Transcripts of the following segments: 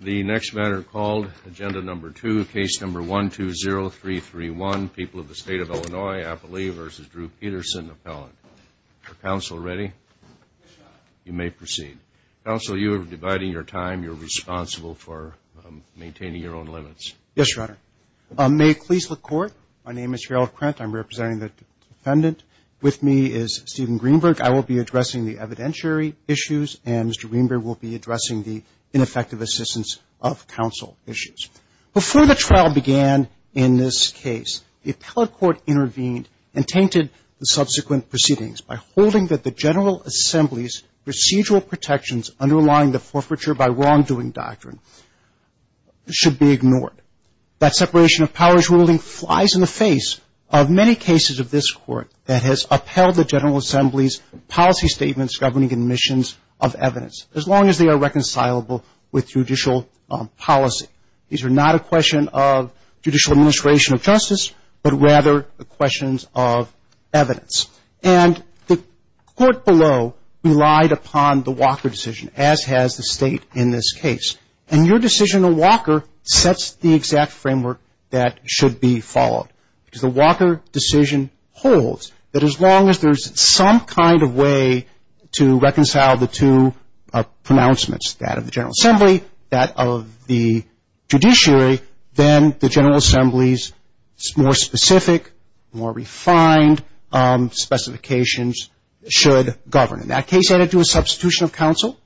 The next matter called, Agenda No. 2, Case No. 120331, People of the State of Illinois, Appalachia v. Drew Peterson, Appellant. Is the counsel ready? You may proceed. Counsel, you are dividing your time. You're responsible for maintaining your own limits. Yes, Your Honor. May it please the Court, my name is Gerald Krent. I'm representing the defendant. With me is Steven Greenberg. I will be addressing the evidentiary issues and Mr. Greenberg will be addressing the ineffective assistance of counsel issues. Before the trial began in this case, the appellate court intervened and tainted the subsequent proceedings by holding that the General Assembly's procedural protections underlying the forfeiture by wrongdoing doctrine should be ignored. That separation of powers ruling flies in the face of many cases of this Court that has upheld the General Assembly's policy statements governing admissions of evidence, as long as they are reconcilable with judicial policy. These are not a question of judicial administration of justice, but rather the questions of evidence. And the Court below relied upon the Walker decision, as has the State in this case. And your decision in Walker sets the exact framework that should be followed, because the Walker decision holds that as long as there's some kind of way to reconcile the two pronouncements, that of the General Assembly, that of the judiciary, then the General Assembly's more specific, more refined specifications should govern. In that case, added to a substitution of counsel,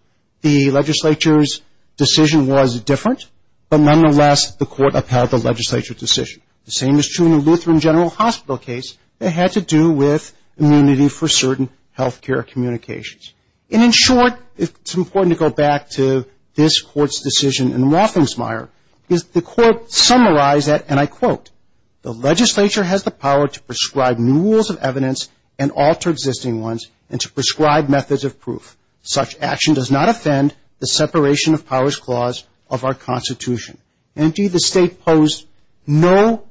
the legislature's decision was different, but nonetheless the Court upheld the legislature's decision. The same is true in the Lutheran General Hospital case that had to do with immunity for certain health care communications. And in short, it's important to go back to this Court's decision in Waffensmeyer, because the Court summarized that, and I quote, the legislature has the power to prescribe new rules of evidence and alter existing ones, and to prescribe methods of proof. Such action does not offend the separation of powers clause of our Constitution. Indeed, the State posed no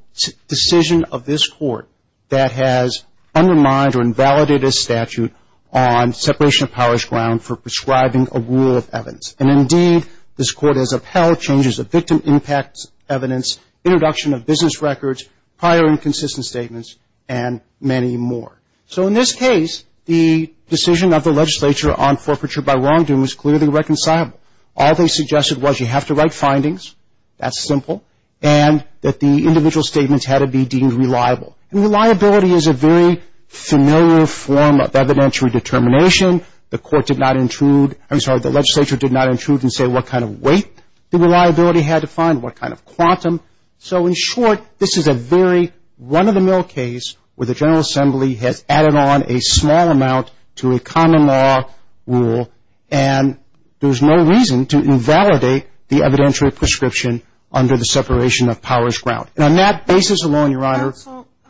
decision of this Court that has undermined or invalidated a statute on separation of powers grounds for prescribing a rule of evidence. And indeed, this Court has upheld changes of victim impact evidence, introduction of business records, prior inconsistent statements, and many more. So in this case, the decision of the legislature on forfeiture by wrongdoing was clearly reconcilable. All they suggested was you have to write findings, that's simple, and that the individual statements had to be deemed reliable. Reliability is a very familiar form of evidentiary determination. The court did not intrude, I'm sorry, the legislature did not intrude and say what kind of weight the reliability had to find, what kind of quantum. So in short, this is a very run-of-the-mill case where the General Assembly has added on a small amount to a common law rule, and there's no reason to invalidate the evidentiary prescription under the separation of powers ground. And on that basis alone, Your Honor,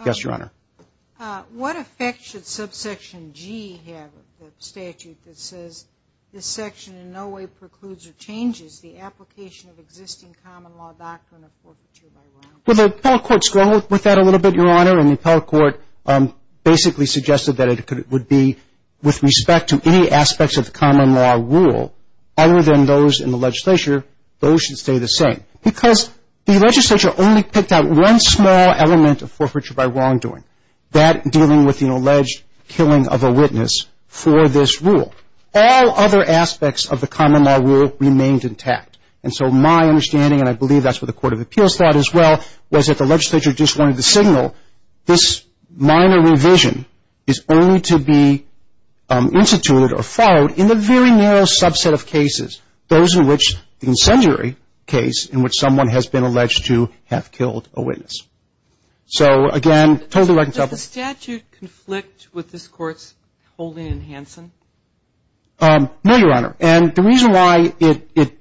yes, Your Honor. What effect should subsection G have, the statute that says this section in no way precludes or changes the application of existing common law doctrine of forfeiture by wrongdoing? Well, the appellate court struggled with that a little bit, Your Honor, and the appellate court basically suggested that it would be with respect to any aspects of the common law rule other than those in the legislature, those should stay the same. Because the legislature only picked out one small element of forfeiture by wrongdoing, that dealing with the alleged killing of a witness for this rule. All other aspects of the common law rule remained intact. And so my understanding, and I believe that's what the Court of Appeals thought as well, was that the legislature just wanted to signal this minor revision is only to be instituted or followed in the very narrow subset of cases, those in which the incendiary case in which someone has been alleged to have killed a witness. So again, totally reconciled. Does the statute conflict with this Court's holding in Hansen? No, Your Honor. And the reason why it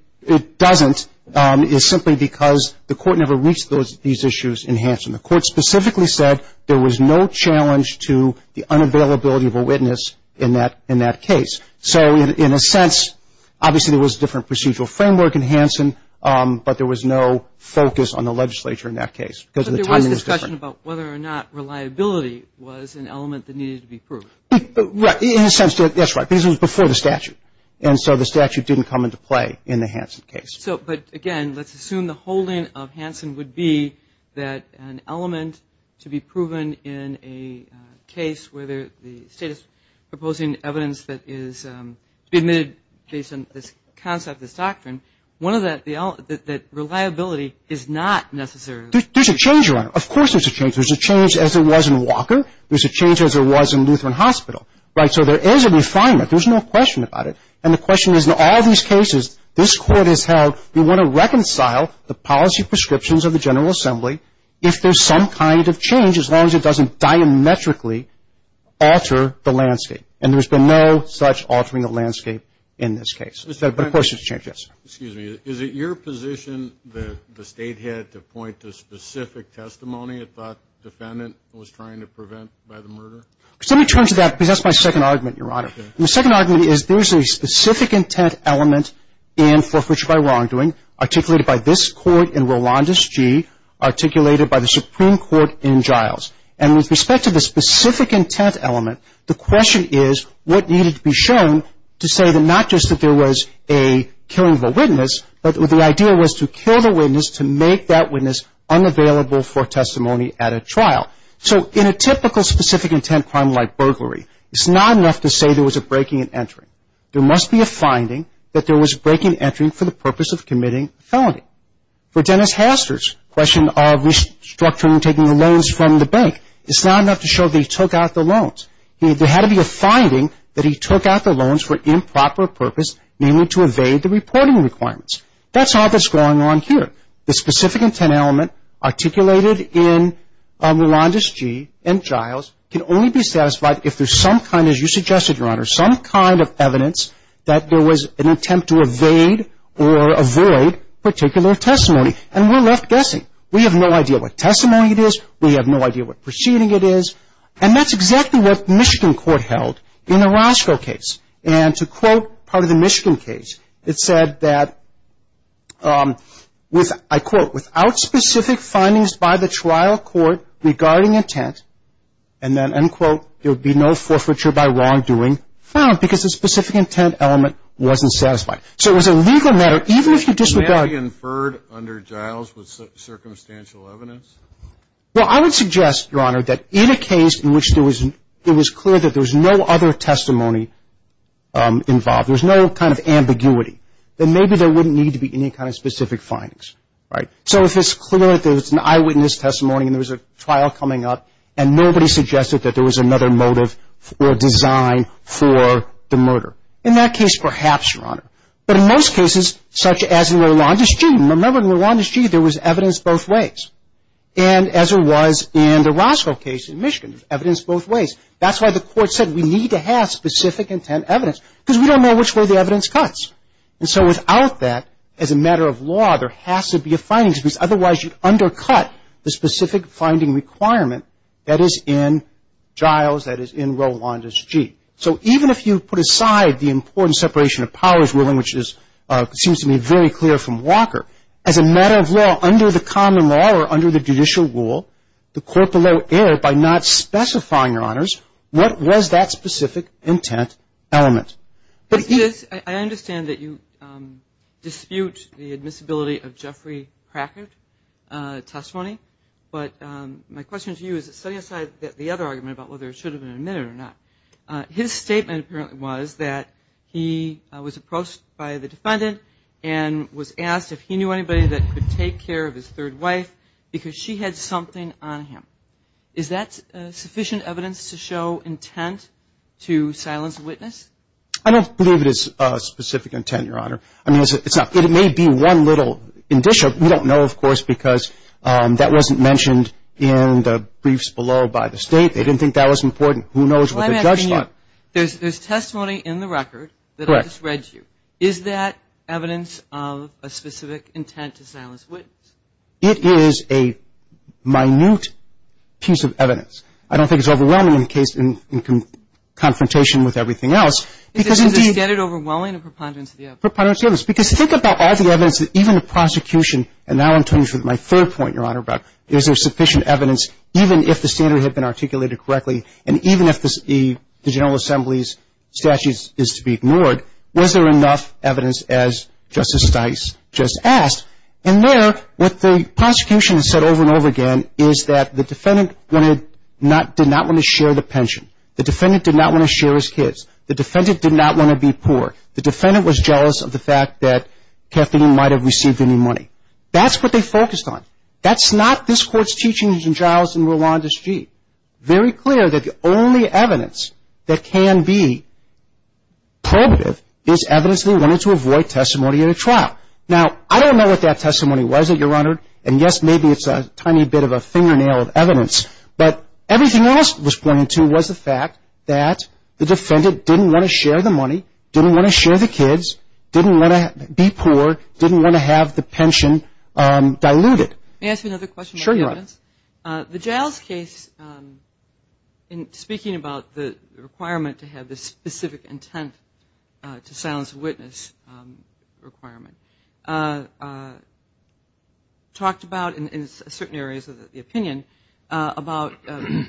doesn't is simply because the court never reached these issues in Hansen. The court specifically said there was no challenge to the unavailability of a witness in that case. So in a sense, obviously there was a different procedural framework in Hansen, but there was no focus on the legislature in that case. But there was discussion about whether or not reliability was an element that needed to be proved. Right. In a sense, that's right. Because it was before the statute. And so the statute didn't come into play in the Hansen case. So, but again, let's assume the holding of Hansen would be that an element to be proven in a case where the state is proposing evidence that is to be admitted based on this concept, this doctrine, one of that, that reliability is not necessary. There's a change, Your Honor. Of course there's a change. There's a change as there was in Walker. There's a change as there was in Lutheran Hospital. Right. So there is a refinement. There's no question about it. And the question is in all these cases, this court has held we want to reconcile the policy prescriptions of the General Assembly if there's some kind of change, as long as it doesn't diametrically alter the landscape. And there's been no such altering the landscape in this case. But of course there's a change. Yes, sir. Excuse me. Is it your position that the state had to point to specific testimony that the defendant was trying to prevent by the murder? Let me turn to that because that's my second argument, Your Honor. And the second argument is there's a specific intent element in forfeiture by wrongdoing, articulated by this court in Rolandus G., articulated by the Supreme Court in Giles. And with respect to the specific intent element, the question is what needed to be shown to say that not just that there was a killing of a witness, but the idea was to kill the witness to make that witness unavailable for testimony at a trial. So in a typical specific intent crime like burglary, it's not enough to say there was a breaking and entering. There must be a finding that there was a breaking and entering for the purpose of committing a felony. For Dennis Haster's question of restructuring taking the loans from the bank, it's not enough to show that he took out the loans. There had to be a finding that he took out the loans for improper purpose, namely to evade the reporting requirements. That's not what's going on here. The specific intent element articulated in Rolandus G. and Giles can only be satisfied if there's some kind, as you suggested, Your Honor, some kind of evidence that there was an attempt to evade or avoid particular testimony. And we're left guessing. We have no idea what testimony it is. We have no idea what proceeding it is. And that's exactly what Michigan court held in the Roscoe case. And to quote part of the Michigan case, it said that with, I quote, without specific findings by the trial court regarding intent, and then, end quote, there would be no forfeiture by wrongdoing found because the specific intent element wasn't satisfied. So it was a legal matter, even if you disregard May I be inferred under Giles with circumstantial evidence? Well, I would suggest, Your Honor, that in a case in which there was clear that there was no other testimony involved, there was no kind of ambiguity, then maybe there wouldn't need to be any kind of specific findings, right? So if it's clear that there was an eyewitness testimony and there was a trial coming up and nobody suggested that there was another motive or design for the murder. In that case, perhaps, Your Honor. But in most cases, such as in Rolandus G., remember in Rolandus G. there was evidence both ways. And as there was in the Roscoe case in Michigan, evidence both ways. That's why the court said we need to have specific intent evidence because we don't know which way the evidence cuts. And so without that, as a matter of law, there has to be a findings piece. Otherwise, you undercut the specific finding requirement that is in Giles, that is in Rolandus G. So even if you put aside the important separation of powers ruling, which seems to me very clear from Walker, as a matter of law, under the common law or under the judicial rule, the court below error by not specifying, Your Honors, what was that specific intent element? But he is. I understand that you dispute the admissibility of Jeffrey Crackert testimony. But my question to you is, setting aside the other argument about whether it should have been admitted or not, his statement apparently was that he was approached by the defendant and was asked if he knew anybody that could take care of his third wife because she had something on him. Is that sufficient evidence to show intent to silence a witness? I don't believe it is specific intent, Your Honor. I mean, it may be one little indicia. We don't know, of course, because that wasn't mentioned in the briefs below by the state. They didn't think that was important. Who knows what the judge thought. There's testimony in the record that I just read to you. Is that evidence of a specific intent to silence a witness? It is a minute piece of evidence. I don't think it's overwhelming in the case, in confrontation with everything else. Because, indeed. Is the standard overwhelming in preponderance of the evidence? Preponderance of the evidence. Because think about all the evidence that even the prosecution, and now I'm turning to my third point, Your Honor, about is there sufficient evidence, even if the standard had been articulated correctly, and even if the General Assembly's statute is to be ignored. Was there enough evidence, as Justice Stice just asked? And there, what the prosecution has said over and over again is that the defendant did not want to share the pension. The defendant did not want to share his kids. The defendant did not want to be poor. The defendant was jealous of the fact that Kathleen might have received any money. That's what they focused on. That's not this Court's teachings in Giles and Rolanda Street. Very clear that the only evidence that can be probative is evidence they wanted to avoid testimony at a trial. Now, I don't know what that testimony was that, Your Honor, and yes, maybe it's a tiny bit of a fingernail of evidence. But everything else was pointed to was the fact that the defendant didn't want to share the money, didn't want to share the kids, didn't want to be poor, didn't want to have the pension diluted. May I ask you another question? Sure, Your Honor. The Giles case, in speaking about the requirement to have the specific intent to silence a witness requirement, talked about, in certain areas of the opinion, about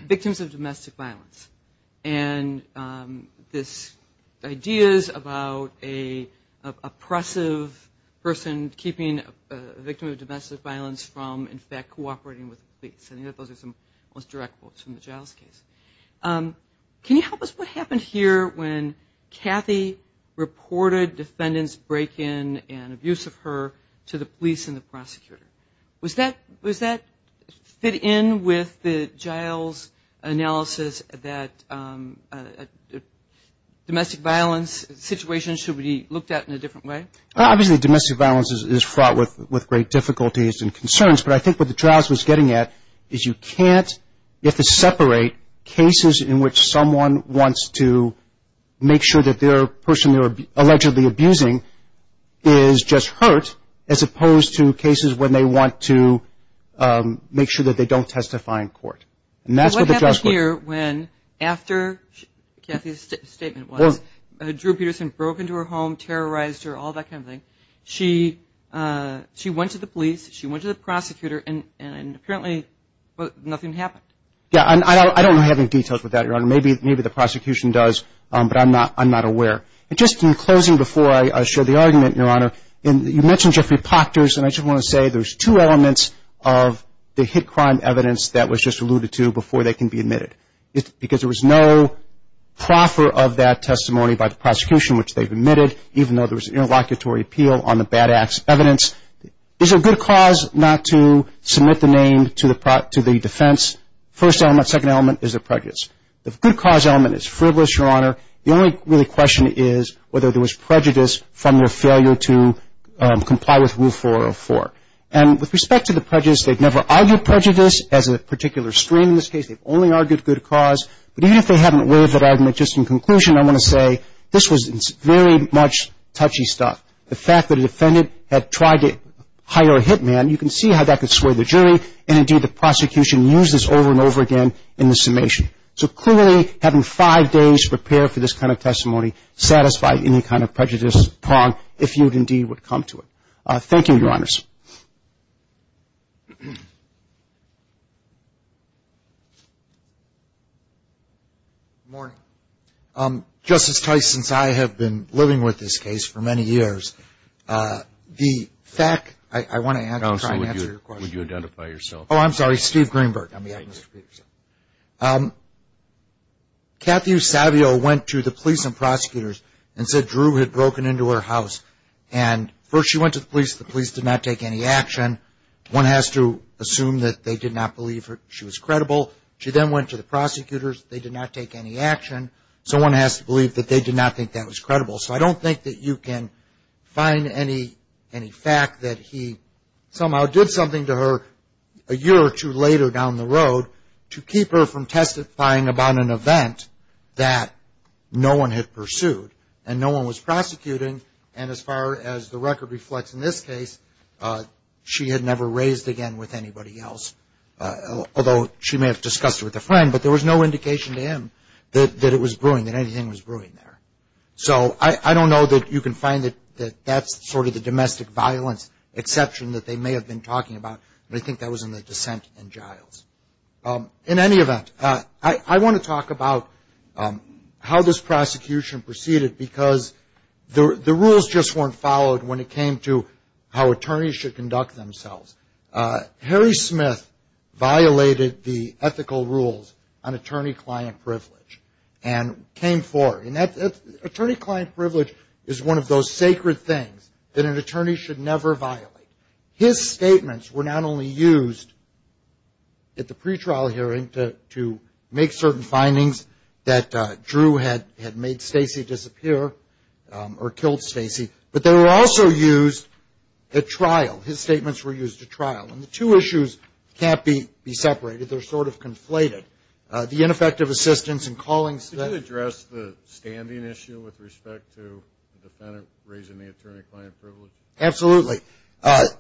victims of domestic violence. And this idea is about an oppressive person keeping a victim of domestic violence from, in fact, cooperating with the police. I know those are some direct quotes from the Giles case. Can you help us? What happened here when Kathy reported defendant's break-in and abuse of her to the police and the prosecutor? Was that fit in with the Giles analysis that domestic violence situation should be looked at in a different way? Obviously, domestic violence is fraught with great difficulties and concerns. But I think what the trials was getting at is you can't, if it's separate, cases in which someone wants to make sure that their person they were allegedly abusing is just hurt, as opposed to cases when they want to make sure that they don't testify in court. And that's what the trials were. What happened here when, after Kathy's statement was, Drew Peterson broke into her home, terrorized her, all that kind of thing, she went to the police, she went to the prosecutor, and apparently nothing happened. Yeah, and I don't have any details with that, Your Honor. Maybe the prosecution does, but I'm not aware. And just in closing before I share the argument, Your Honor, you mentioned Jeffrey Pachters, and I just want to say there's two elements of the hit crime evidence that was just alluded to before they can be admitted. Because there was no proffer of that testimony by the prosecution, which they've admitted, even though there was an interlocutory appeal on the bad acts evidence, is a good cause not to submit the name to the defense, first element, second element, is a prejudice. The good cause element is frivolous, Your Honor. The only real question is whether there was prejudice from their failure to comply with Rule 404. And with respect to the prejudice, they've never argued prejudice as a particular stream in this case, they've only argued good cause. But even if they haven't waived that argument, just in conclusion, I want to say this was very much touchy stuff. The fact that a defendant had tried to hire a hit man, you can see how that could sway the jury, and indeed the prosecution used this over and over again in the summation. So clearly, having five days to prepare for this kind of testimony satisfied any kind of prejudice, prong, if you indeed would come to it. Thank you, Your Honors. Justice Tice, since I have been living with this case for many years, the fact I want to answer your question. Counsel, would you identify yourself? Oh, I'm sorry, Steve Greenberg. I'm behind Mr. Peterson. Cathy Savio went to the police and prosecutors and said Drew had broken into her house. And first she went to the police, the police did not take any action. One has to assume that they did not believe she was credible. She then went to the prosecutors, they did not take any action. So one has to believe that they did not think that was credible. So I don't think that you can find any fact that he somehow did something to her a year or two later down the road to keep her from testifying about an event that no one had pursued and no one was prosecuting. And as far as the record reflects in this case, she had never raised again with anybody else. Although she may have discussed it with a friend, but there was no indication to him that it was brewing, that anything was brewing there. So I don't know that you can find that that's sort of the domestic violence exception that they may have been talking about, but I think that was in the dissent in Giles. In any event, I want to talk about how this prosecution proceeded because the rules just weren't followed when it came to how attorneys should conduct themselves. Harry Smith violated the ethical rules on attorney-client privilege and came forward. And attorney-client privilege is one of those sacred things that an attorney should never violate. His statements were not only used at the pretrial hearing to make certain findings that Drew had made Stacey disappear or killed Stacey, but they were also used at trial. His statements were used at trial. And the two issues can't be separated. They're sort of conflated. The ineffective assistance and calling... Could you address the standing issue with respect to the defendant raising the attorney-client privilege? Absolutely.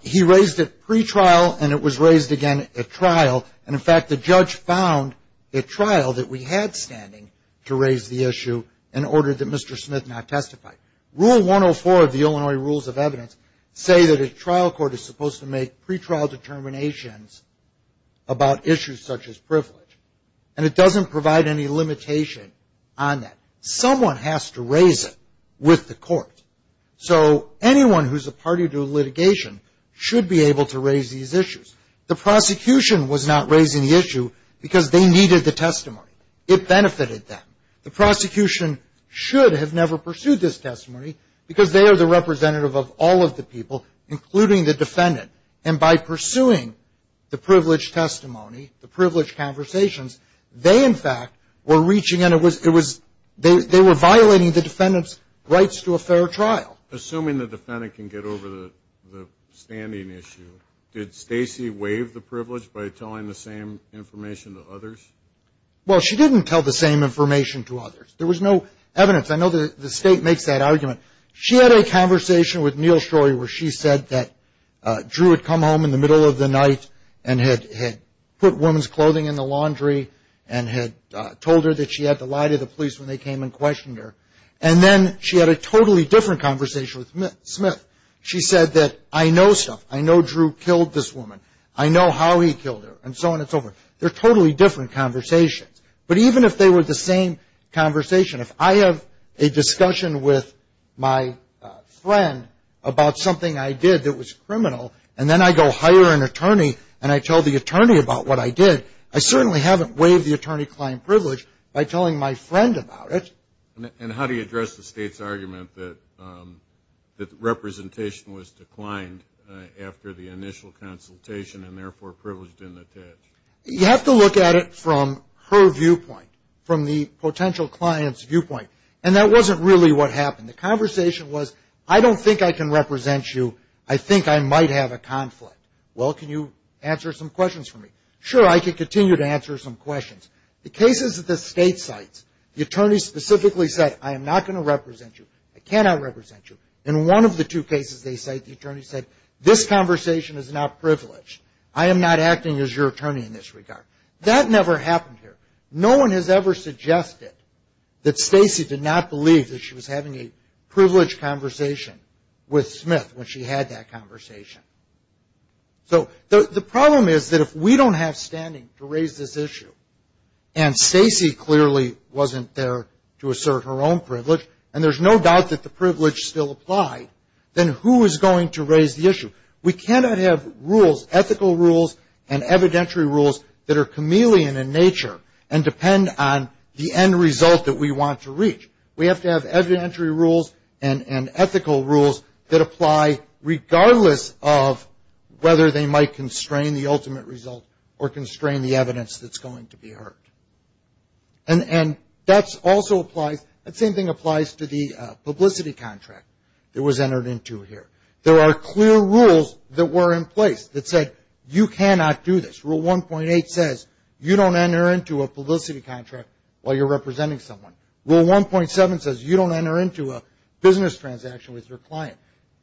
He raised it pretrial, and it was raised again at trial. And in fact, the judge found at trial that we had standing to raise the issue in order that Mr. Smith not testify. Rule 104 of the Illinois Rules of Evidence say that a trial court is supposed to make pretrial determinations about issues such as privilege. And it doesn't provide any limitation on that. Someone has to raise it with the court. So anyone who's a party to litigation should be able to raise these issues. The prosecution was not raising the issue because they needed the testimony. It benefited them. The prosecution should have never pursued this testimony because they are the representative of all of the people, including the defendant. And by pursuing the privilege testimony, the privilege conversations, they in fact were reaching and they were violating the defendant's rights to a fair trial. Assuming the defendant can get over the standing issue, did Stacey waive the privilege by telling the same information to others? Well, she didn't tell the same information to others. There was no evidence. I know the state makes that argument. She had a conversation with Neal Shroy where she said that Drew had come home in the middle of the night and had put women's clothing in the laundry and had told her that she had to lie to the police when they came and questioned her. And then she had a totally different conversation with Smith. She said that, I know stuff. I know Drew killed this woman. I know how he killed her, and so on and so forth. They're totally different conversations. But even if they were the same conversation, if I have a discussion with my friend about something I did that was criminal and then I go hire an attorney and I tell the attorney about what I did, I certainly haven't waived the attorney-client privilege by telling my friend about it. And how do you address the state's argument that representation was declined after the initial consultation and therefore privileged and attached? You have to look at it from her viewpoint, from the potential client's viewpoint. And that wasn't really what happened. The conversation was, I don't think I can represent you. I think I might have a conflict. Well, can you answer some questions for me? Sure, I can continue to answer some questions. The cases that the state cites, the attorney specifically said, I am not going to represent you, I cannot represent you. In one of the two cases they cite, the attorney said, this conversation is not privileged. I am not acting as your attorney in this regard. That never happened here. No one has ever suggested that Stacey did not believe that she was having a privileged conversation with Smith when she had that conversation. So the problem is that if we don't have standing to raise this issue, and Stacey clearly wasn't there to assert her own privilege, and there's no doubt that the privilege still applied, then who is going to raise the issue? We cannot have rules, ethical rules and evidentiary rules that are chameleon in nature and depend on the end result that we want to reach. We have to have evidentiary rules and ethical rules that apply regardless of whether they might constrain the ultimate result or constrain the evidence that's going to be heard. And that's also applies, that same thing applies to the publicity contract that was entered into here. There are clear rules that were in place that said, you cannot do this. Rule 1.8 says, you don't enter into a publicity contract while you're representing someone. Rule 1.7 says, you don't enter into a business transaction with your client.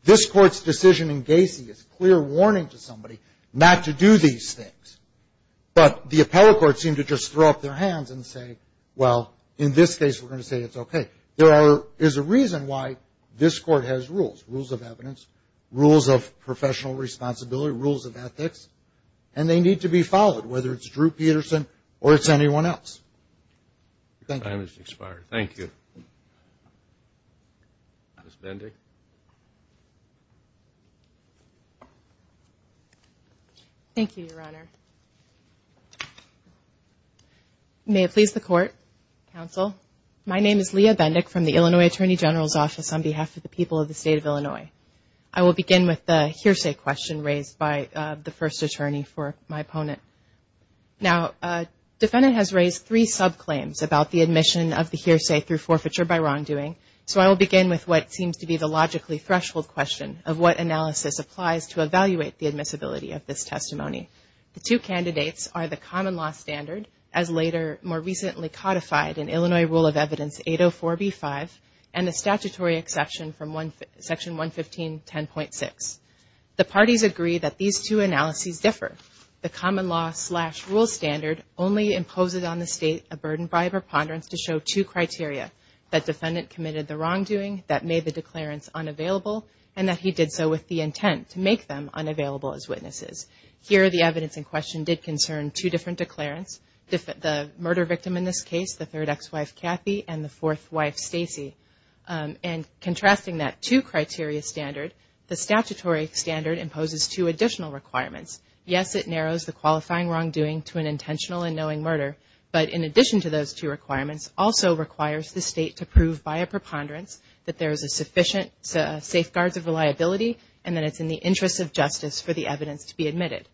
This court's decision in Gacy is clear warning to somebody not to do these things. But the appellate court seemed to just throw up their hands and say, well, in this case we're going to say it's okay. There are, there's a reason why this court has rules, rules of evidence, rules of professional responsibility, rules of ethics, and they need to be followed, whether it's Drew Peterson or it's anyone else. Thank you. Time has expired. Thank you. Ms. Bending. Thank you, Your Honor. May it please the court, counsel. My name is Leah Bendick from the Illinois Attorney General's Office on behalf of the people of the state of Illinois. I will begin with the hearsay question raised by the first attorney for my opponent. Now, defendant has raised three subclaims about the admission of the hearsay through forfeiture by wrongdoing. So I will begin with what seems to be the logically threshold question of what analysis applies to evaluate the admissibility of this testimony. The two candidates are the common law standard, as later more recently codified in Illinois Rule of Evidence 804b-5, and the statutory exception from one, section 115, 10.6. The parties agree that these two analyses differ. The common law slash rule standard only imposes on the state a burden by a preponderance to show two criteria, that defendant committed the wrongdoing, that made the declarants unavailable, and that he did so with the intent to make them unavailable as witnesses. Here, the evidence in question did concern two different declarants, the murder victim in this case, the third ex-wife, Kathy, and the fourth wife, Stacey. And contrasting that two criteria standard, the statutory standard imposes two additional requirements. Yes, it narrows the qualifying wrongdoing to an intentional and knowing murder, but in addition to those two requirements, also requires the state to prove by a preponderance that there is a sufficient safeguards of reliability and that it's in the interest of justice for the evidence to be admitted.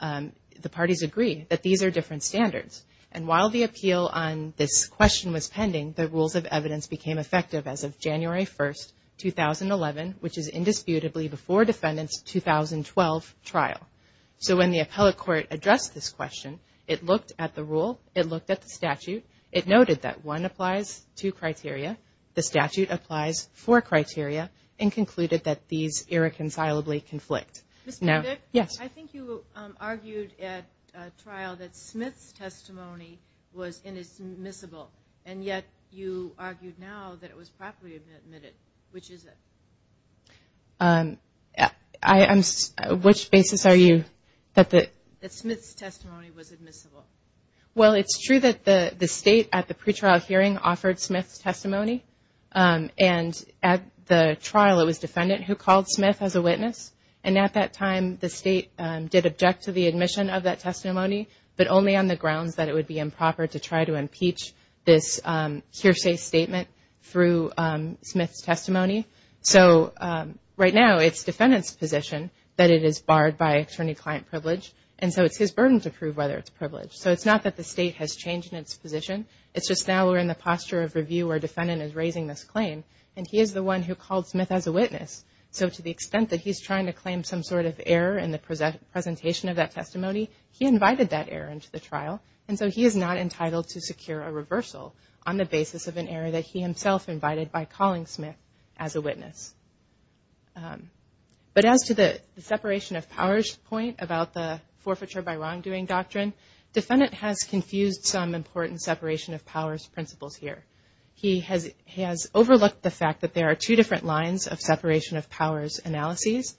The parties agree that these are different standards. And while the appeal on this question was pending, the Rules of Evidence became effective as of January 1st, 2011, which is indisputably before defendant's 2012 trial. So when the appellate court addressed this question, it looked at the rule, it looked at the statute, it noted that one applies to criteria, the statute applies for criteria, and concluded that these irreconcilably conflict. Now, yes. I think you argued at trial that Smith's testimony was admissible, and yet you argued now that it was properly admitted. Which is it? I am, which basis are you, that the. That Smith's testimony was admissible. Well, it's true that the state at the pretrial hearing offered Smith's testimony, and at the trial, it was defendant who called Smith as a witness. And at that time, the state did object to the admission of that testimony, but only on the grounds that it would be improper to try to impeach this hearsay statement through Smith's testimony. So right now, it's defendant's position that it is barred by attorney-client privilege, and so it's his burden to prove whether it's privileged. So it's not that the state has changed in its position, it's just now we're in the posture of review where defendant is raising this claim, and he is the one who called Smith as a witness. So to the extent that he's trying to claim some sort of error in the presentation of that testimony, he invited that error into the trial. And so he is not entitled to secure a reversal on the basis of an error that he himself invited by calling Smith as a witness. But as to the separation of powers point about the forfeiture by wrongdoing doctrine, defendant has confused some important separation of powers principles here. He has overlooked the fact that there are two different lines of separation of powers analyses.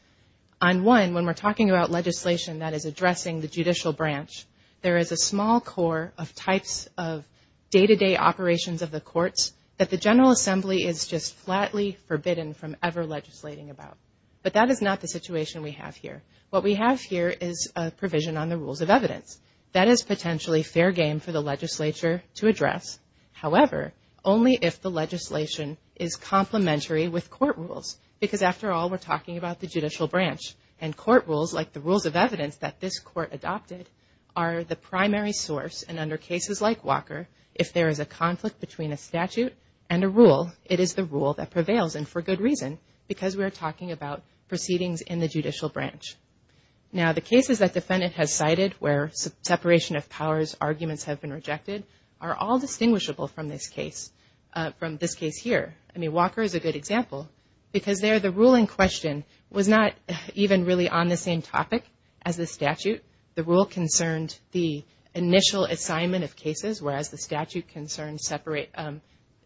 On one, when we're talking about legislation that is addressing the judicial branch, there is a small core of types of day-to-day operations of the courts that the General Assembly is just flatly forbidden from ever legislating about. But that is not the situation we have here. What we have here is a provision on the rules of evidence. That is potentially fair game for the legislature to address. However, only if the legislation is complementary with court rules. Because after all, we're talking about the judicial branch. And court rules, like the rules of evidence that this court adopted, are the primary source. And under cases like Walker, if there is a conflict between a statute and a rule, it is the rule that prevails. And for good reason, because we are talking about proceedings in the judicial branch. Now, the cases that defendant has cited where separation of powers arguments have been rejected are all distinguishable from this case. From this case here. I mean, Walker is a good example. Because there, the ruling question was not even really on the same topic as the statute. The rule concerned the initial assignment of cases, whereas the statute concerned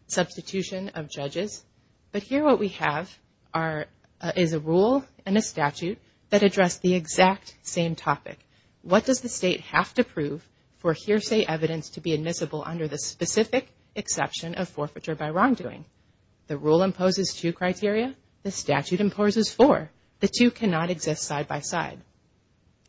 substitution of judges. But here what we have is a rule and a statute that address the exact same topic. What does the state have to prove for hearsay evidence to be admissible under the specific exception of forfeiture by wrongdoing? The rule imposes two criteria. The statute imposes four. The two cannot exist side by side.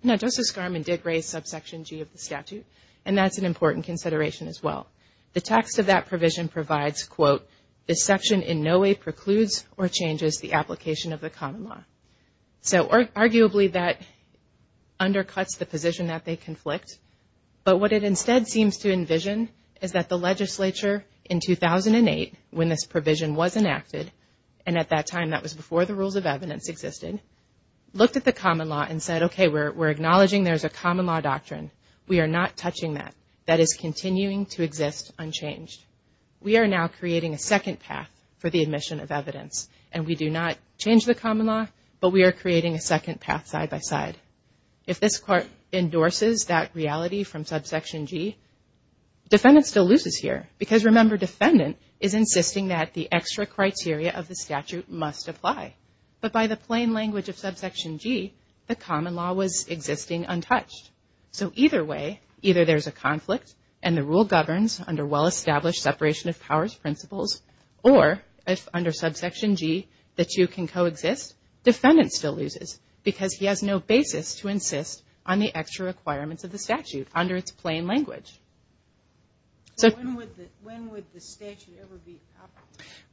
Now, Justice Garman did raise subsection G of the statute. And that's an important consideration as well. The text of that provision provides, quote, the section in no way precludes or changes the application of the common law. So arguably, that undercuts the position that they conflict. But what it instead seems to envision is that the legislature in 2008, when this provision was enacted, and at that time, that was before the rules of evidence existed, looked at the common law and said, okay, we're acknowledging there's a common law doctrine. We are not touching that. That is continuing to exist unchanged. We are now creating a second path for the admission of evidence. And we do not change the common law, but we are creating a second path side by side. If this court endorses that reality from subsection G, defendant still loses here. Because remember, defendant is insisting that the extra criteria of the statute must apply. But by the plain language of subsection G, the common law was existing untouched. So either way, either there's a conflict and the rule governs under well-established separation of powers principles, or if under subsection G, that you can coexist, defendant still loses. Because he has no basis to insist on the extra requirements of the statute under its plain language. So when would the statute ever be proper?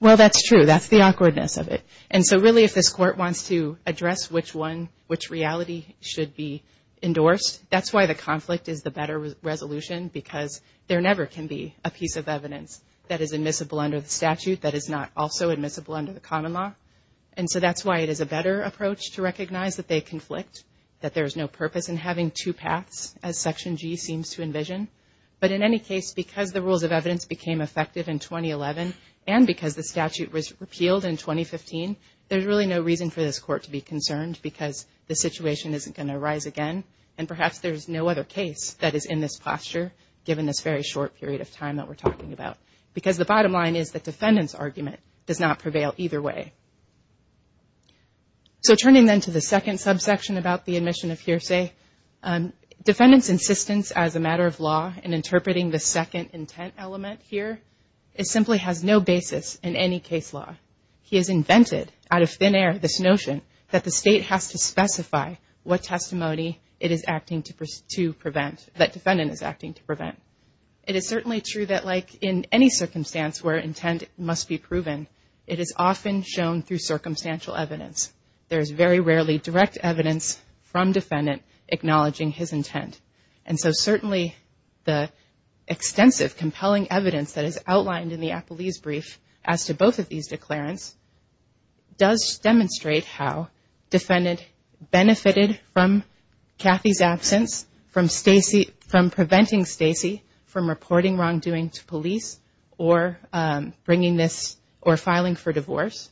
Well, that's true. That's the awkwardness of it. And so really, if this court wants to address which one, which reality should be endorsed, that's why the conflict is the better resolution, because there never can be a piece of evidence that is admissible under the statute that is not also admissible under the common law. And so that's why it is a better approach to recognize that they conflict, that there's no purpose in having two paths, as section G seems to envision. But in any case, because the rules of evidence became effective in 2011, and because the statute was repealed in 2015, there's really no reason for this court to be concerned, because the situation isn't going to rise again. And perhaps there's no other case that is in this posture, given this very short period of time that we're talking about. Because the bottom line is the defendant's argument does not prevail either way. So turning then to the second subsection about the admission of hearsay, defendants' insistence as a matter of law in interpreting the second intent element here, it simply has no basis in any case law. He has invented, out of thin air, this notion that the state has to specify what testimony it is acting to prevent, that defendant is acting to prevent. It is certainly true that like in any circumstance where intent must be proven, it is often shown through circumstantial evidence. There is very rarely direct evidence from defendant acknowledging his intent. And so certainly the extensive, compelling evidence that is outlined in the Appellee's Brief as to both of these declarants, does demonstrate how defendant benefited from Kathy's absence, from preventing Stacy from reporting wrongdoing to police, or bringing this, or filing for divorce.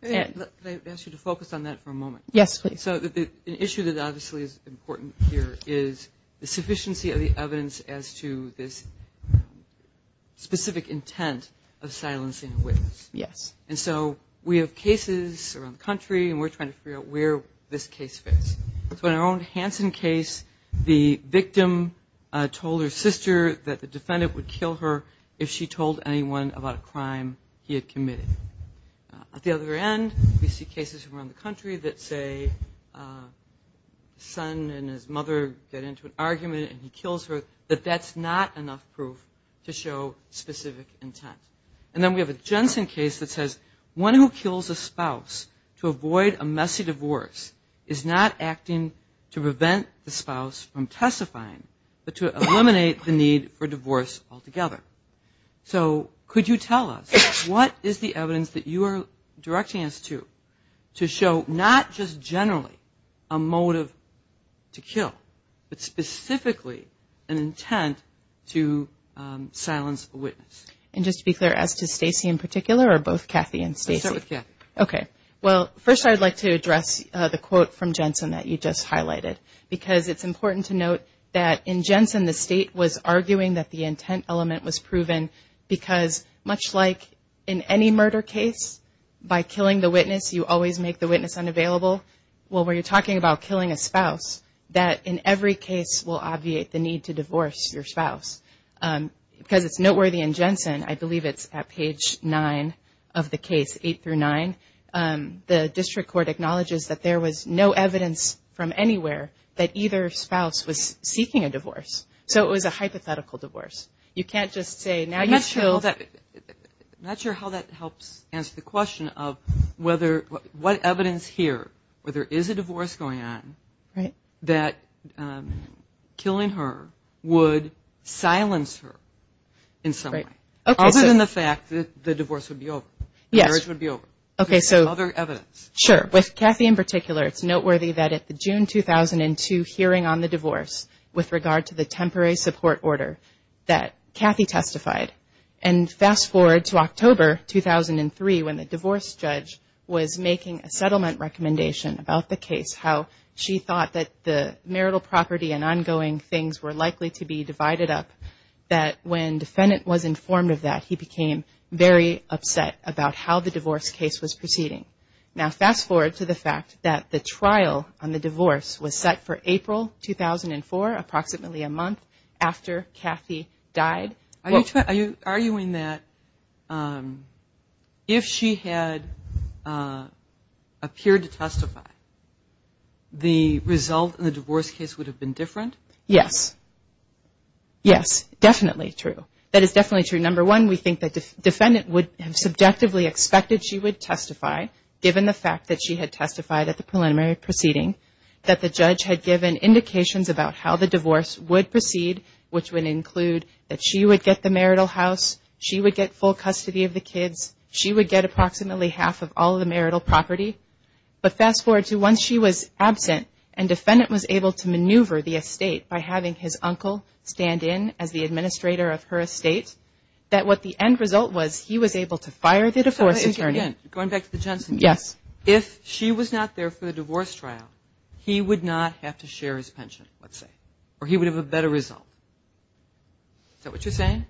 And. Can I ask you to focus on that for a moment? Yes, please. So the issue that obviously is important here is the sufficiency of the evidence as to this specific intent of silencing a witness. Yes. And so we have cases around the country, and we're trying to figure out where this case fits. So in our own Hanson case, the victim told her sister that the defendant would kill her if she told anyone about a crime he had committed. At the other end, we see cases around the country that say a son and his mother get into an argument and he kills her, that that's not enough proof to show specific intent. And then we have a Jensen case that says, one who kills a spouse to avoid a messy divorce is not acting to prevent the spouse from testifying, but to eliminate the need for divorce altogether. So could you tell us, what is the evidence that you are directing us to, to show not just generally a motive to kill, but specifically an intent to silence a witness? And just to be clear, as to Stacy in particular, or both Kathy and Stacy? I'll start with Kathy. Okay. Well, first I'd like to address the quote from Jensen that you just highlighted, because it's important to note that in Jensen, the state was arguing that the intent element was proven, because much like in any murder case, by killing the witness, you always make the witness unavailable. Well, when you're talking about killing a spouse, that in every case will obviate the need to divorce your spouse. Because it's noteworthy in Jensen, I believe it's at page nine of the case, eight through nine, the district court acknowledges that there was no evidence from anywhere that either spouse was seeking a divorce. So it was a hypothetical divorce. You can't just say, now you've killed. I'm not sure how that helps answer the question of whether, what evidence here, where there is a divorce going on, that killing her would silence her in some way. Other than the fact that the divorce would be over, the marriage would be over. Okay, so. Other evidence. Sure. With Kathy in particular, it's noteworthy that at the June 2002 hearing on the divorce, with regard to the temporary support order, that Kathy testified. And fast forward to October 2003, when the divorce judge was making a settlement recommendation about the case, how she thought that the marital property and ongoing things were likely to be divided up. That when defendant was informed of that, he became very upset about how the divorce case was proceeding. Now fast forward to the fact that the trial on the divorce was set for April 2004, approximately a month after Kathy died. Are you arguing that if she had appeared to testify, the result in the divorce case would have been different? Yes. Yes. Definitely true. That is definitely true. Number one, we think that the defendant would have subjectively expected she would testify, given the fact that she had testified at the preliminary proceeding. That the judge had given indications about how the divorce would proceed, which would include that she would get the marital house, she would get full custody of the kids, she would get approximately half of all the marital property. But fast forward to once she was absent, and defendant was able to maneuver the estate by having his uncle stand in as the administrator of her estate, that what the end result was, he was able to fire the divorce attorney. Going back to the Jensen case. Yes. If she was not there for the divorce trial, he would not have to share his pension, let's say, or he would have a better result. Is that what you're saying?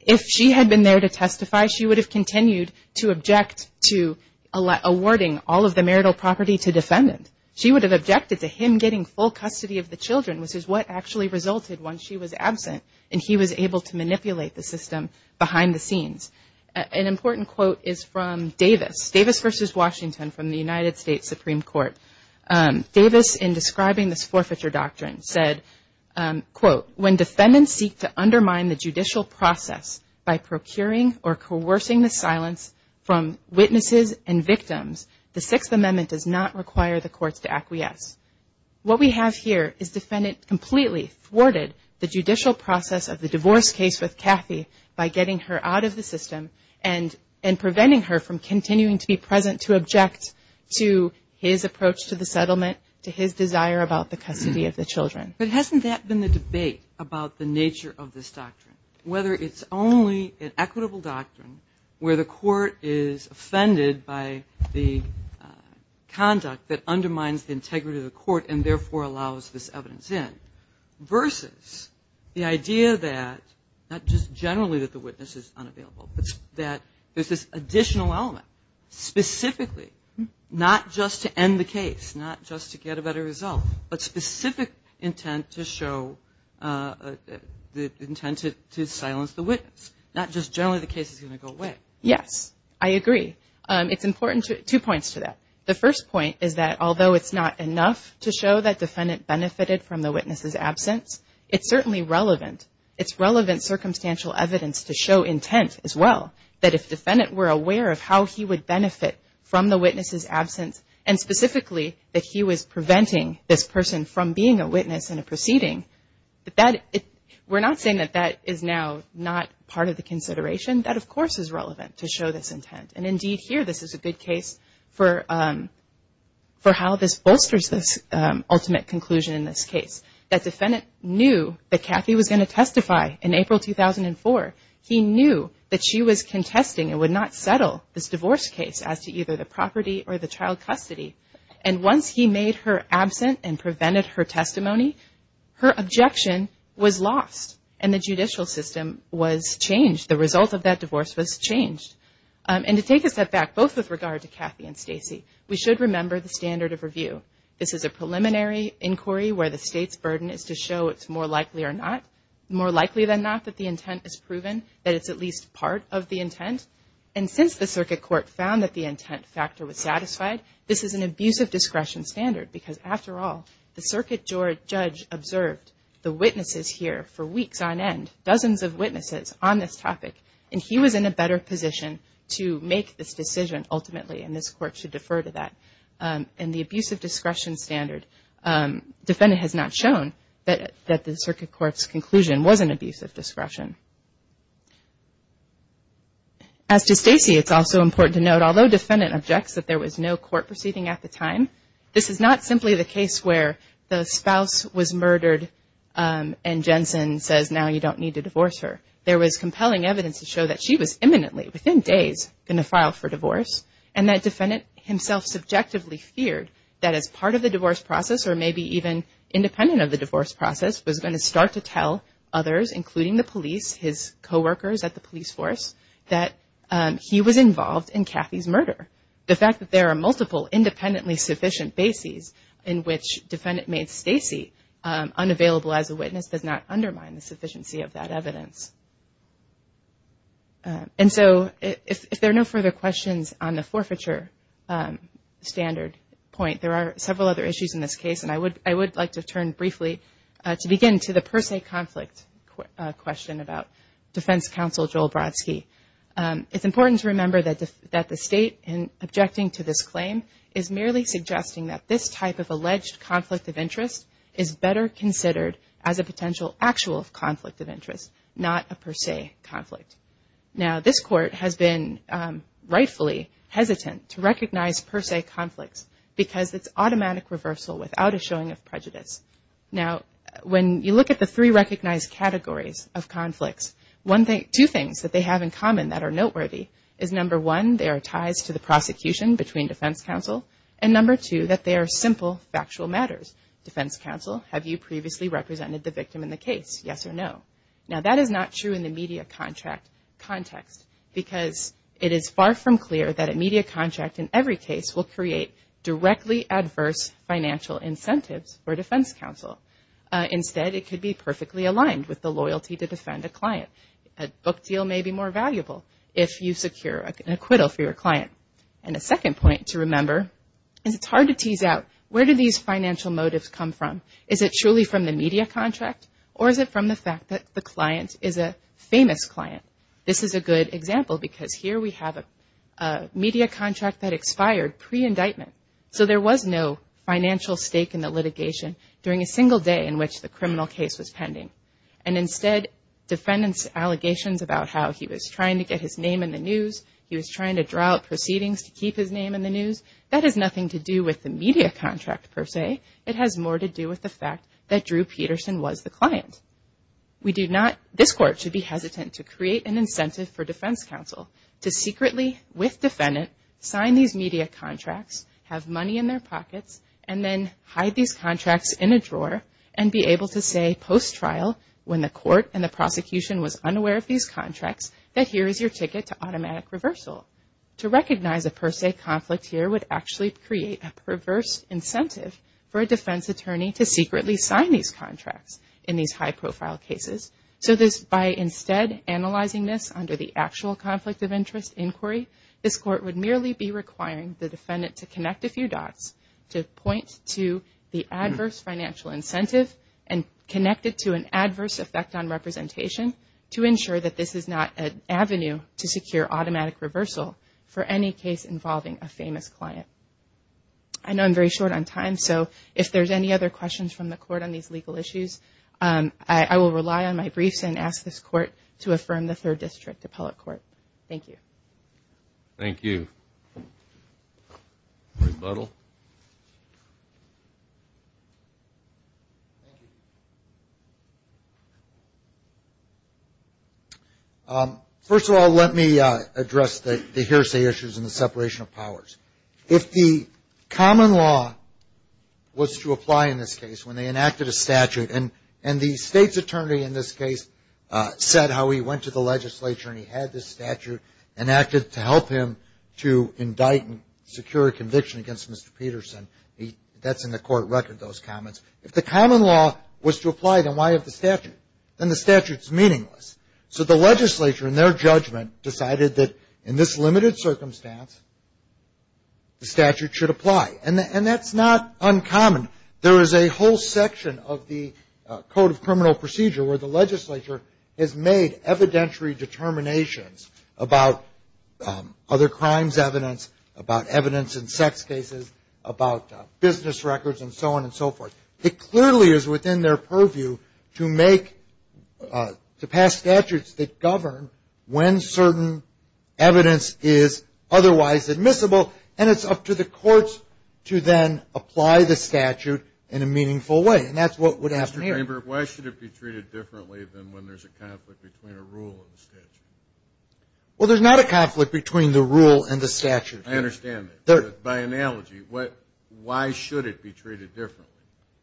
If she had been there to testify, she would have continued to object to awarding all of the marital property to defendant. She would have objected to him getting full custody of the children, which is what actually resulted once she was absent, and he was able to manipulate the system behind the scenes. An important quote is from Davis. Davis versus Washington from the United States Supreme Court. Davis, in describing this forfeiture doctrine, said, quote, when defendants seek to undermine the judicial process by procuring or coercing the silence from witnesses and victims, the Sixth Amendment does not require the courts to acquiesce. What we have here is defendant completely thwarted the judicial process of the divorce case with Kathy by getting her out of the system and preventing her from continuing to be present to object to his approach to the settlement, to his desire about the custody of the children. But hasn't that been the debate about the nature of this doctrine? Whether it's only an equitable doctrine where the court is offended by the conduct that undermines the integrity of the court and therefore allows this evidence in versus the idea that not just generally that the witness is unavailable, but that there's this additional element specifically not just to end the case, not just to get a better result, but specific intent to show the intent to silence the witness, not just generally the case is going to go away. Yes, I agree. It's important to, two points to that. The first point is that although it's not enough to show that defendant benefited from the witness's absence, it's certainly relevant. It's relevant circumstantial evidence to show intent as well, that if defendant were aware of how he would benefit from the witness's absence and specifically that he was preventing this person from being a witness in a proceeding, we're not saying that that is now not part of the consideration, that of course is relevant to show this intent. And indeed here this is a good case for how this bolsters this ultimate conclusion in this case. That defendant knew that Kathy was going to testify in April 2004. He knew that she was contesting and would not settle this divorce case as to either the property or the child custody. And once he made her absent and prevented her testimony, her objection was lost and the judicial system was changed. The result of that divorce was changed. And to take a step back, both with regard to Kathy and Stacey, we should remember the standard of review. This is a preliminary inquiry where the state's burden is to show it's more likely or not, that the intent is proven, that it's at least part of the intent. And since the circuit court found that the intent factor was satisfied, this is an abuse of discretion standard. Because after all, the circuit judge observed the witnesses here for weeks on end, dozens of witnesses on this topic, and he was in a better position to make this decision ultimately and this court should defer to that. And the abuse of discretion standard, defendant has not shown that the circuit court's conclusion was an abuse of discretion. As to Stacey, it's also important to note, although defendant objects that there was no court proceeding at the time, this is not simply the case where the spouse was murdered and Jensen says, now you don't need to divorce her. There was compelling evidence to show that she was imminently, within days, going to file for divorce and that defendant himself subjectively feared that as part of the divorce process or maybe even independent of the divorce process, was going to start to tell others, including the police, his co-workers at the police force, that he was involved in Kathy's murder. The fact that there are multiple independently sufficient bases in which defendant made Stacey unavailable as a witness does not undermine the sufficiency of that evidence. And so, if there are no further questions on the forfeiture standard point, there are several other issues in this case and I would like to turn briefly to begin to the per se conflict question about Defense Counsel Joel Brodsky. It's important to remember that the state in objecting to this claim is merely suggesting that this type of alleged conflict of interest is better considered as a potential actual conflict of interest, not a per se conflict. Now, this court has been rightfully hesitant to recognize per se conflicts because it's automatic reversal without a showing of prejudice. Now, when you look at the three recognized categories of conflicts, two things that they have in common that are noteworthy is number one, there are ties to the prosecution between Defense Counsel and number two, that they are simple, factual matters. Defense Counsel, have you previously represented the victim in the case, yes or no? Now, that is not true in the media contract context because it is far from clear that a media contract in every case will create directly adverse financial incentives for Defense Counsel. Instead, it could be perfectly aligned with the loyalty to defend a client. A book deal may be more valuable if you secure an acquittal for your client. And a second point to remember is it's hard to tease out, where do these financial motives come from? Is it truly from the media contract or is it from the fact that the client is a famous client? This is a good example because here we have a media contract that expired pre-indictment. So, there was no financial stake in the litigation during a single day in which the criminal case was pending. And instead, defendant's allegations about how he was trying to get his name in the news, he was trying to draw up proceedings to keep his name in the news, that has nothing to do with the media contract per se, it has more to do with the fact that Drew Peterson was the client. We do not, this court should be hesitant to create an incentive for Defense Counsel to secretly, with defendant, sign these media contracts, have money in their pockets, and then hide these contracts in a drawer and be able to say post-trial when the court and the prosecution was unaware of these contracts that here is your ticket to automatic reversal. To recognize a per se conflict here would actually create a perverse incentive for a defense attorney to secretly sign these contracts in these high profile cases. So this, by instead analyzing this under the actual conflict of interest inquiry, this court would merely be requiring the defendant to connect a few dots to point to the adverse financial incentive and connect it to an adverse effect on representation to ensure that this is not an avenue to secure automatic reversal for any case involving a famous client. I know I'm very short on time, so if there's any other questions from the court on these legal issues, I will rely on my briefs and ask this court to affirm the third district appellate court. Thank you. Thank you. Bruce Buttle. First of all, let me address the hearsay issues in the separation of powers. If the common law was to apply in this case when they enacted a statute, and the state's attorney in this case said how he went to the legislature and he had this statute enacted to help him to indict and secure a conviction against Mr. Peterson. That's in the court record, those comments. If the common law was to apply, then why have the statute? Then the statute's meaningless. So the legislature, in their judgment, decided that in this limited circumstance, the statute should apply, and that's not uncommon. There is a whole section of the Code of Criminal Procedure where the legislature has made evidentiary determinations about other crimes evidence, about evidence in sex cases, about business records, and so on and so forth. It clearly is within their purview to make, to pass statutes that govern when certain evidence is otherwise admissible, and it's up to the courts to then apply the statute in a meaningful way, and that's what would happen here. Why should it be treated differently than when there's a conflict between a rule and a statute? Well, there's not a conflict between the rule and the statute. I understand that. By analogy, why should it be treated differently?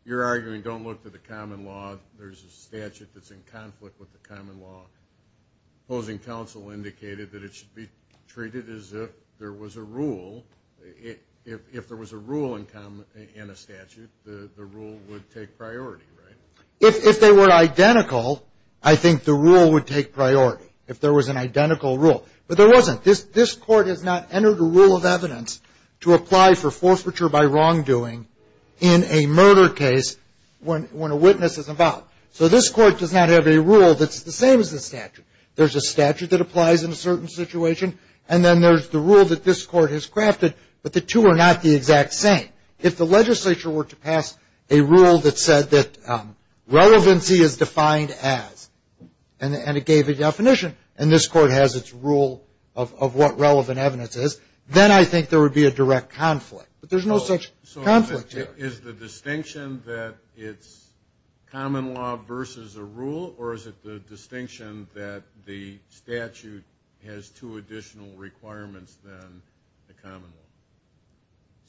You're arguing, don't look to the common law. There's a statute that's in conflict with the common law. Opposing counsel indicated that it should be treated as if there was a rule. If there was a rule in a statute, the rule would take priority, right? If they were identical, I think the rule would take priority, if there was an identical rule. But there wasn't. This court has not entered a rule of evidence to apply for forfeiture by wrongdoing in a murder case when a witness is involved. So this court does not have a rule that's the same as the statute. There's a statute that applies in a certain situation, and then there's the rule that this court has crafted, but the two are not the exact same. If the legislature were to pass a rule that said that relevancy is defined as, and it gave a definition, and this court has its rule of what relevant evidence is, then I think there would be a direct conflict. But there's no such conflict here. Is the distinction that it's common law versus a rule, or is it the distinction that the statute has two additional requirements than the common law?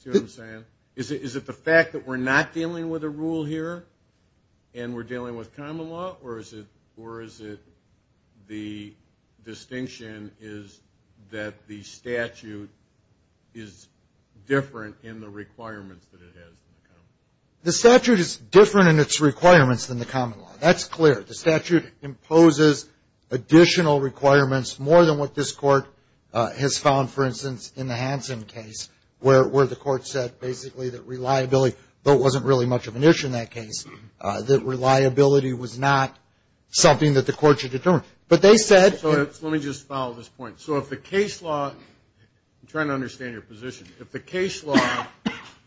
See what I'm saying? Is it the fact that we're not dealing with a rule here, and we're dealing with common law, or is it the distinction is that the statute is different in the requirements that it has in the common law? The statute is different in its requirements than the common law. That's clear. The statute imposes additional requirements more than what this court has found, for instance, in the Hansen case, where the court said basically that reliability, though it wasn't really much of an issue in that case, that reliability was not something that the court should determine. But they said. So let me just follow this point. So if the case law, I'm trying to understand your position. If the case law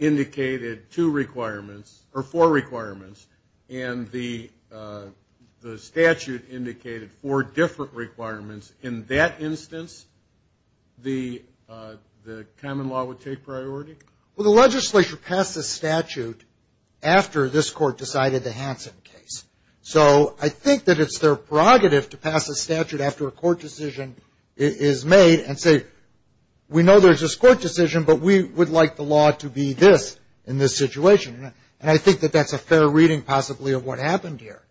indicated two requirements, or four requirements, and the statute indicated four different requirements, in that instance, the common law would take priority? Well, the legislature passed this statute after this court decided the Hansen case. So I think that it's their prerogative to pass a statute after a court decision is made and say we know there's this court decision, but we would like the law to be this in this situation, and I think that that's a fair reading possibly of what happened here.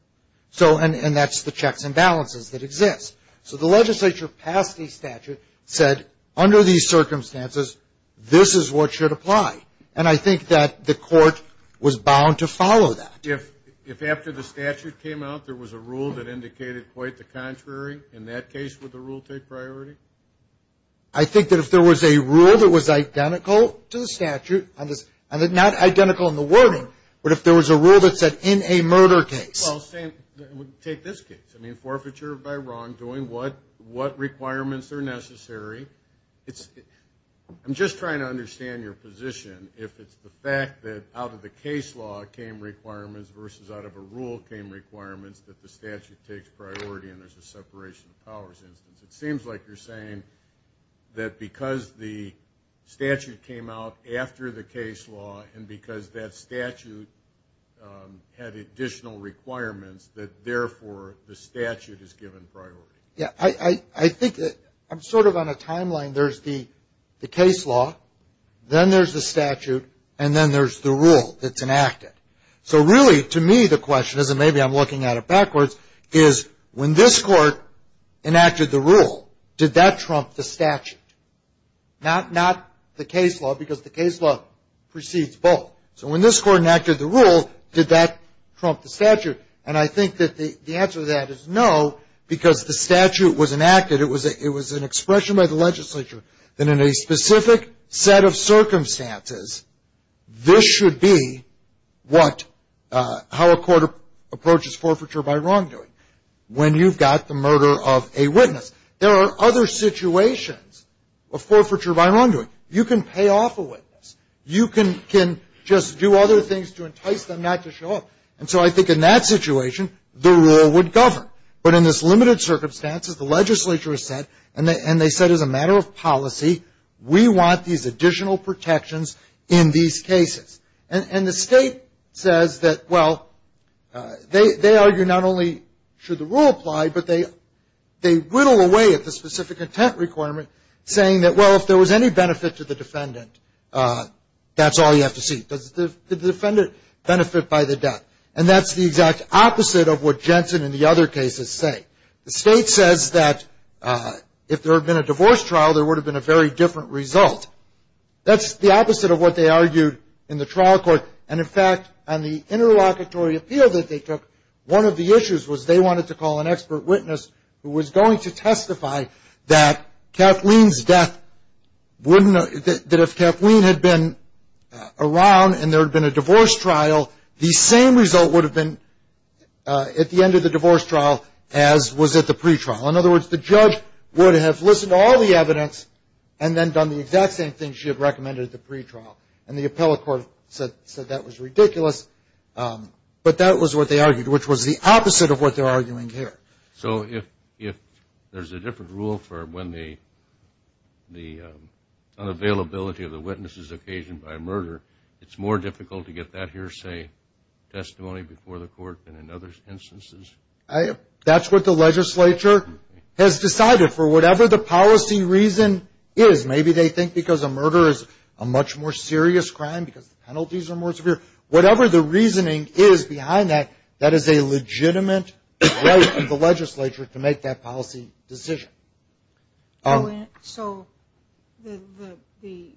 So, and that's the checks and balances that exist. So the legislature passed the statute, said under these circumstances, this is what should apply, and I think that the court was bound to follow that. If after the statute came out, there was a rule that indicated quite the contrary, in that case, would the rule take priority? I think that if there was a rule that was identical to the statute, not identical in the wording, but if there was a rule that said in a murder case. Well, take this case. I mean, forfeiture by wrongdoing, what requirements are necessary? It's, I'm just trying to understand your position if it's the fact that out of the case law came requirements versus out of a rule came requirements that the statute takes priority and there's a separation of powers instance. It seems like you're saying that because the statute came out after the case law and because that statute had additional requirements that therefore the statute is given priority. Yeah, I think that I'm sort of on a timeline. There's the case law, then there's the statute, and then there's the rule that's enacted. So really, to me, the question is, and maybe I'm looking at it backwards, is when this court enacted the rule, did that trump the statute? Not the case law, because the case law precedes both. So when this court enacted the rule, did that trump the statute? And I think that the answer to that is no, because the statute was enacted, it was an expression by the legislature that in a specific set of circumstances, this should be what, how a court approaches forfeiture by wrongdoing. When you've got the murder of a witness. There are other situations of forfeiture by wrongdoing. You can pay off a witness. You can just do other things to entice them not to show up. And so I think in that situation, the rule would govern. But in this limited circumstances, the legislature has said, and they said as a matter of policy, we want these additional protections in these cases. And the state says that, well, they argue not only should the rule apply, but they whittle away at the specific intent requirement, saying that, well, if there was any benefit to the defendant, that's all you have to see. Does the defendant benefit by the death? And that's the exact opposite of what Jensen and the other cases say. The state says that if there had been a divorce trial, there would have been a very different result. That's the opposite of what they argued in the trial court. And in fact, on the interlocutory appeal that they took, one of the issues was they wanted to call an expert witness who was going to testify that if Kathleen had been around and there had been a divorce trial, the same result would have been at the end of the divorce trial as was at the pre-trial. In other words, the judge would have listened to all the evidence and then done the exact same thing she had recommended at the pre-trial. And the appellate court said that was ridiculous, but that was what they argued, which was the opposite of what they're arguing here. So if there's a different rule for when the unavailability of the witness is occasioned by murder, it's more difficult to get that hearsay testimony before the court than in other instances? That's what the legislature has decided for whatever the policy reason is. Maybe they think because a murder is a much more serious crime because the penalties are more severe. Whatever the reasoning is behind that, that is a legitimate right of the legislature to make that policy decision. So the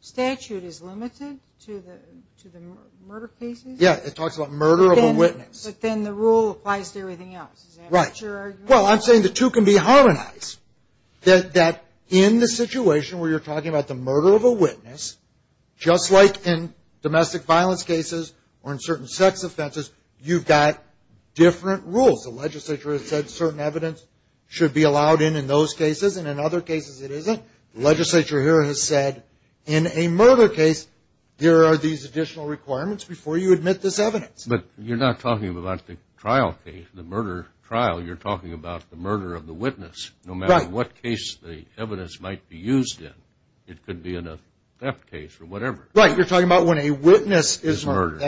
statute is limited to the murder cases? Yeah, it talks about murder of a witness. But then the rule applies to everything else. Right. Well, I'm saying the two can be harmonized. That in the situation where you're talking about the murder of a witness, just like in domestic violence cases or in certain sex offenses, you've got different rules. The legislature has said certain evidence should be allowed in in those cases, and in other cases it isn't. Legislature here has said, in a murder case, there are these additional requirements before you admit this evidence. But you're not talking about the trial case, the murder trial. You're talking about the murder of the witness, no matter what case the evidence might be used in. It could be in a theft case or whatever. Right, you're talking about when a witness is murdered.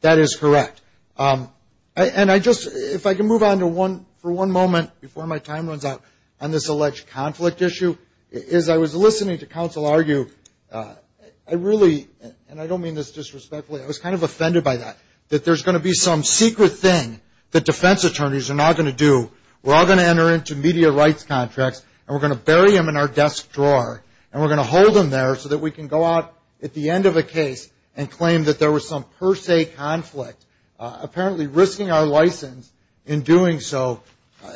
That is correct. And if I can move on for one moment before my time runs out on this alleged conflict issue. As I was listening to counsel argue, I really, and I don't mean this disrespectfully, I was kind of offended by that, that there's going to be some secret thing that defense attorneys are not going to do. We're all going to enter into media rights contracts, and we're going to bury them in our desk drawer. And we're going to hold them there so that we can go out at the end of a case and claim that there was some per se conflict, apparently risking our license in doing so.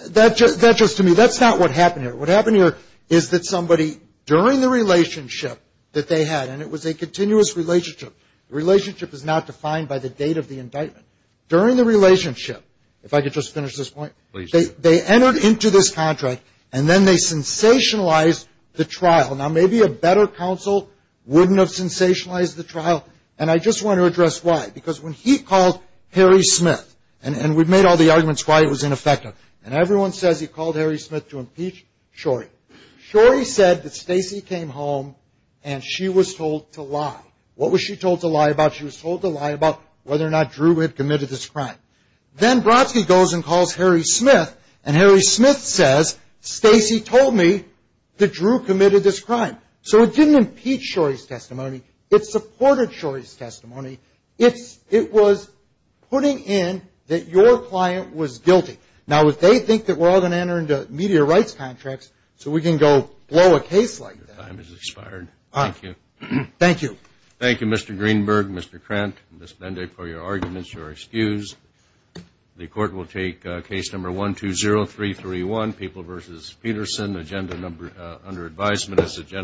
That just to me, that's not what happened here. What happened here is that somebody, during the relationship that they had, and it was a continuous relationship, relationship is not defined by the date of the indictment. During the relationship, if I could just finish this point. Please do. They entered into this contract, and then they sensationalized the trial. Now maybe a better counsel wouldn't have sensationalized the trial. And I just want to address why. Because when he called Harry Smith, and we've made all the arguments why it was ineffective. And everyone says he called Harry Smith to impeach Shorey. Shorey said that Stacey came home and she was told to lie. What was she told to lie about? She was told to lie about whether or not Drew had committed this crime. Then Brodsky goes and calls Harry Smith. And Harry Smith says, Stacey told me that Drew committed this crime. So it didn't impeach Shorey's testimony. It supported Shorey's testimony. It was putting in that your client was guilty. Now if they think that we're all going to enter into media rights contracts, so we can go blow a case like that. Your time has expired. Thank you. Thank you. Thank you, Mr. Greenberg, Mr. Krant, Ms. Bende, for your arguments. Shorey's excused. The court will take case number 120331, People v. Peterson, agenda number, under advisement as agenda.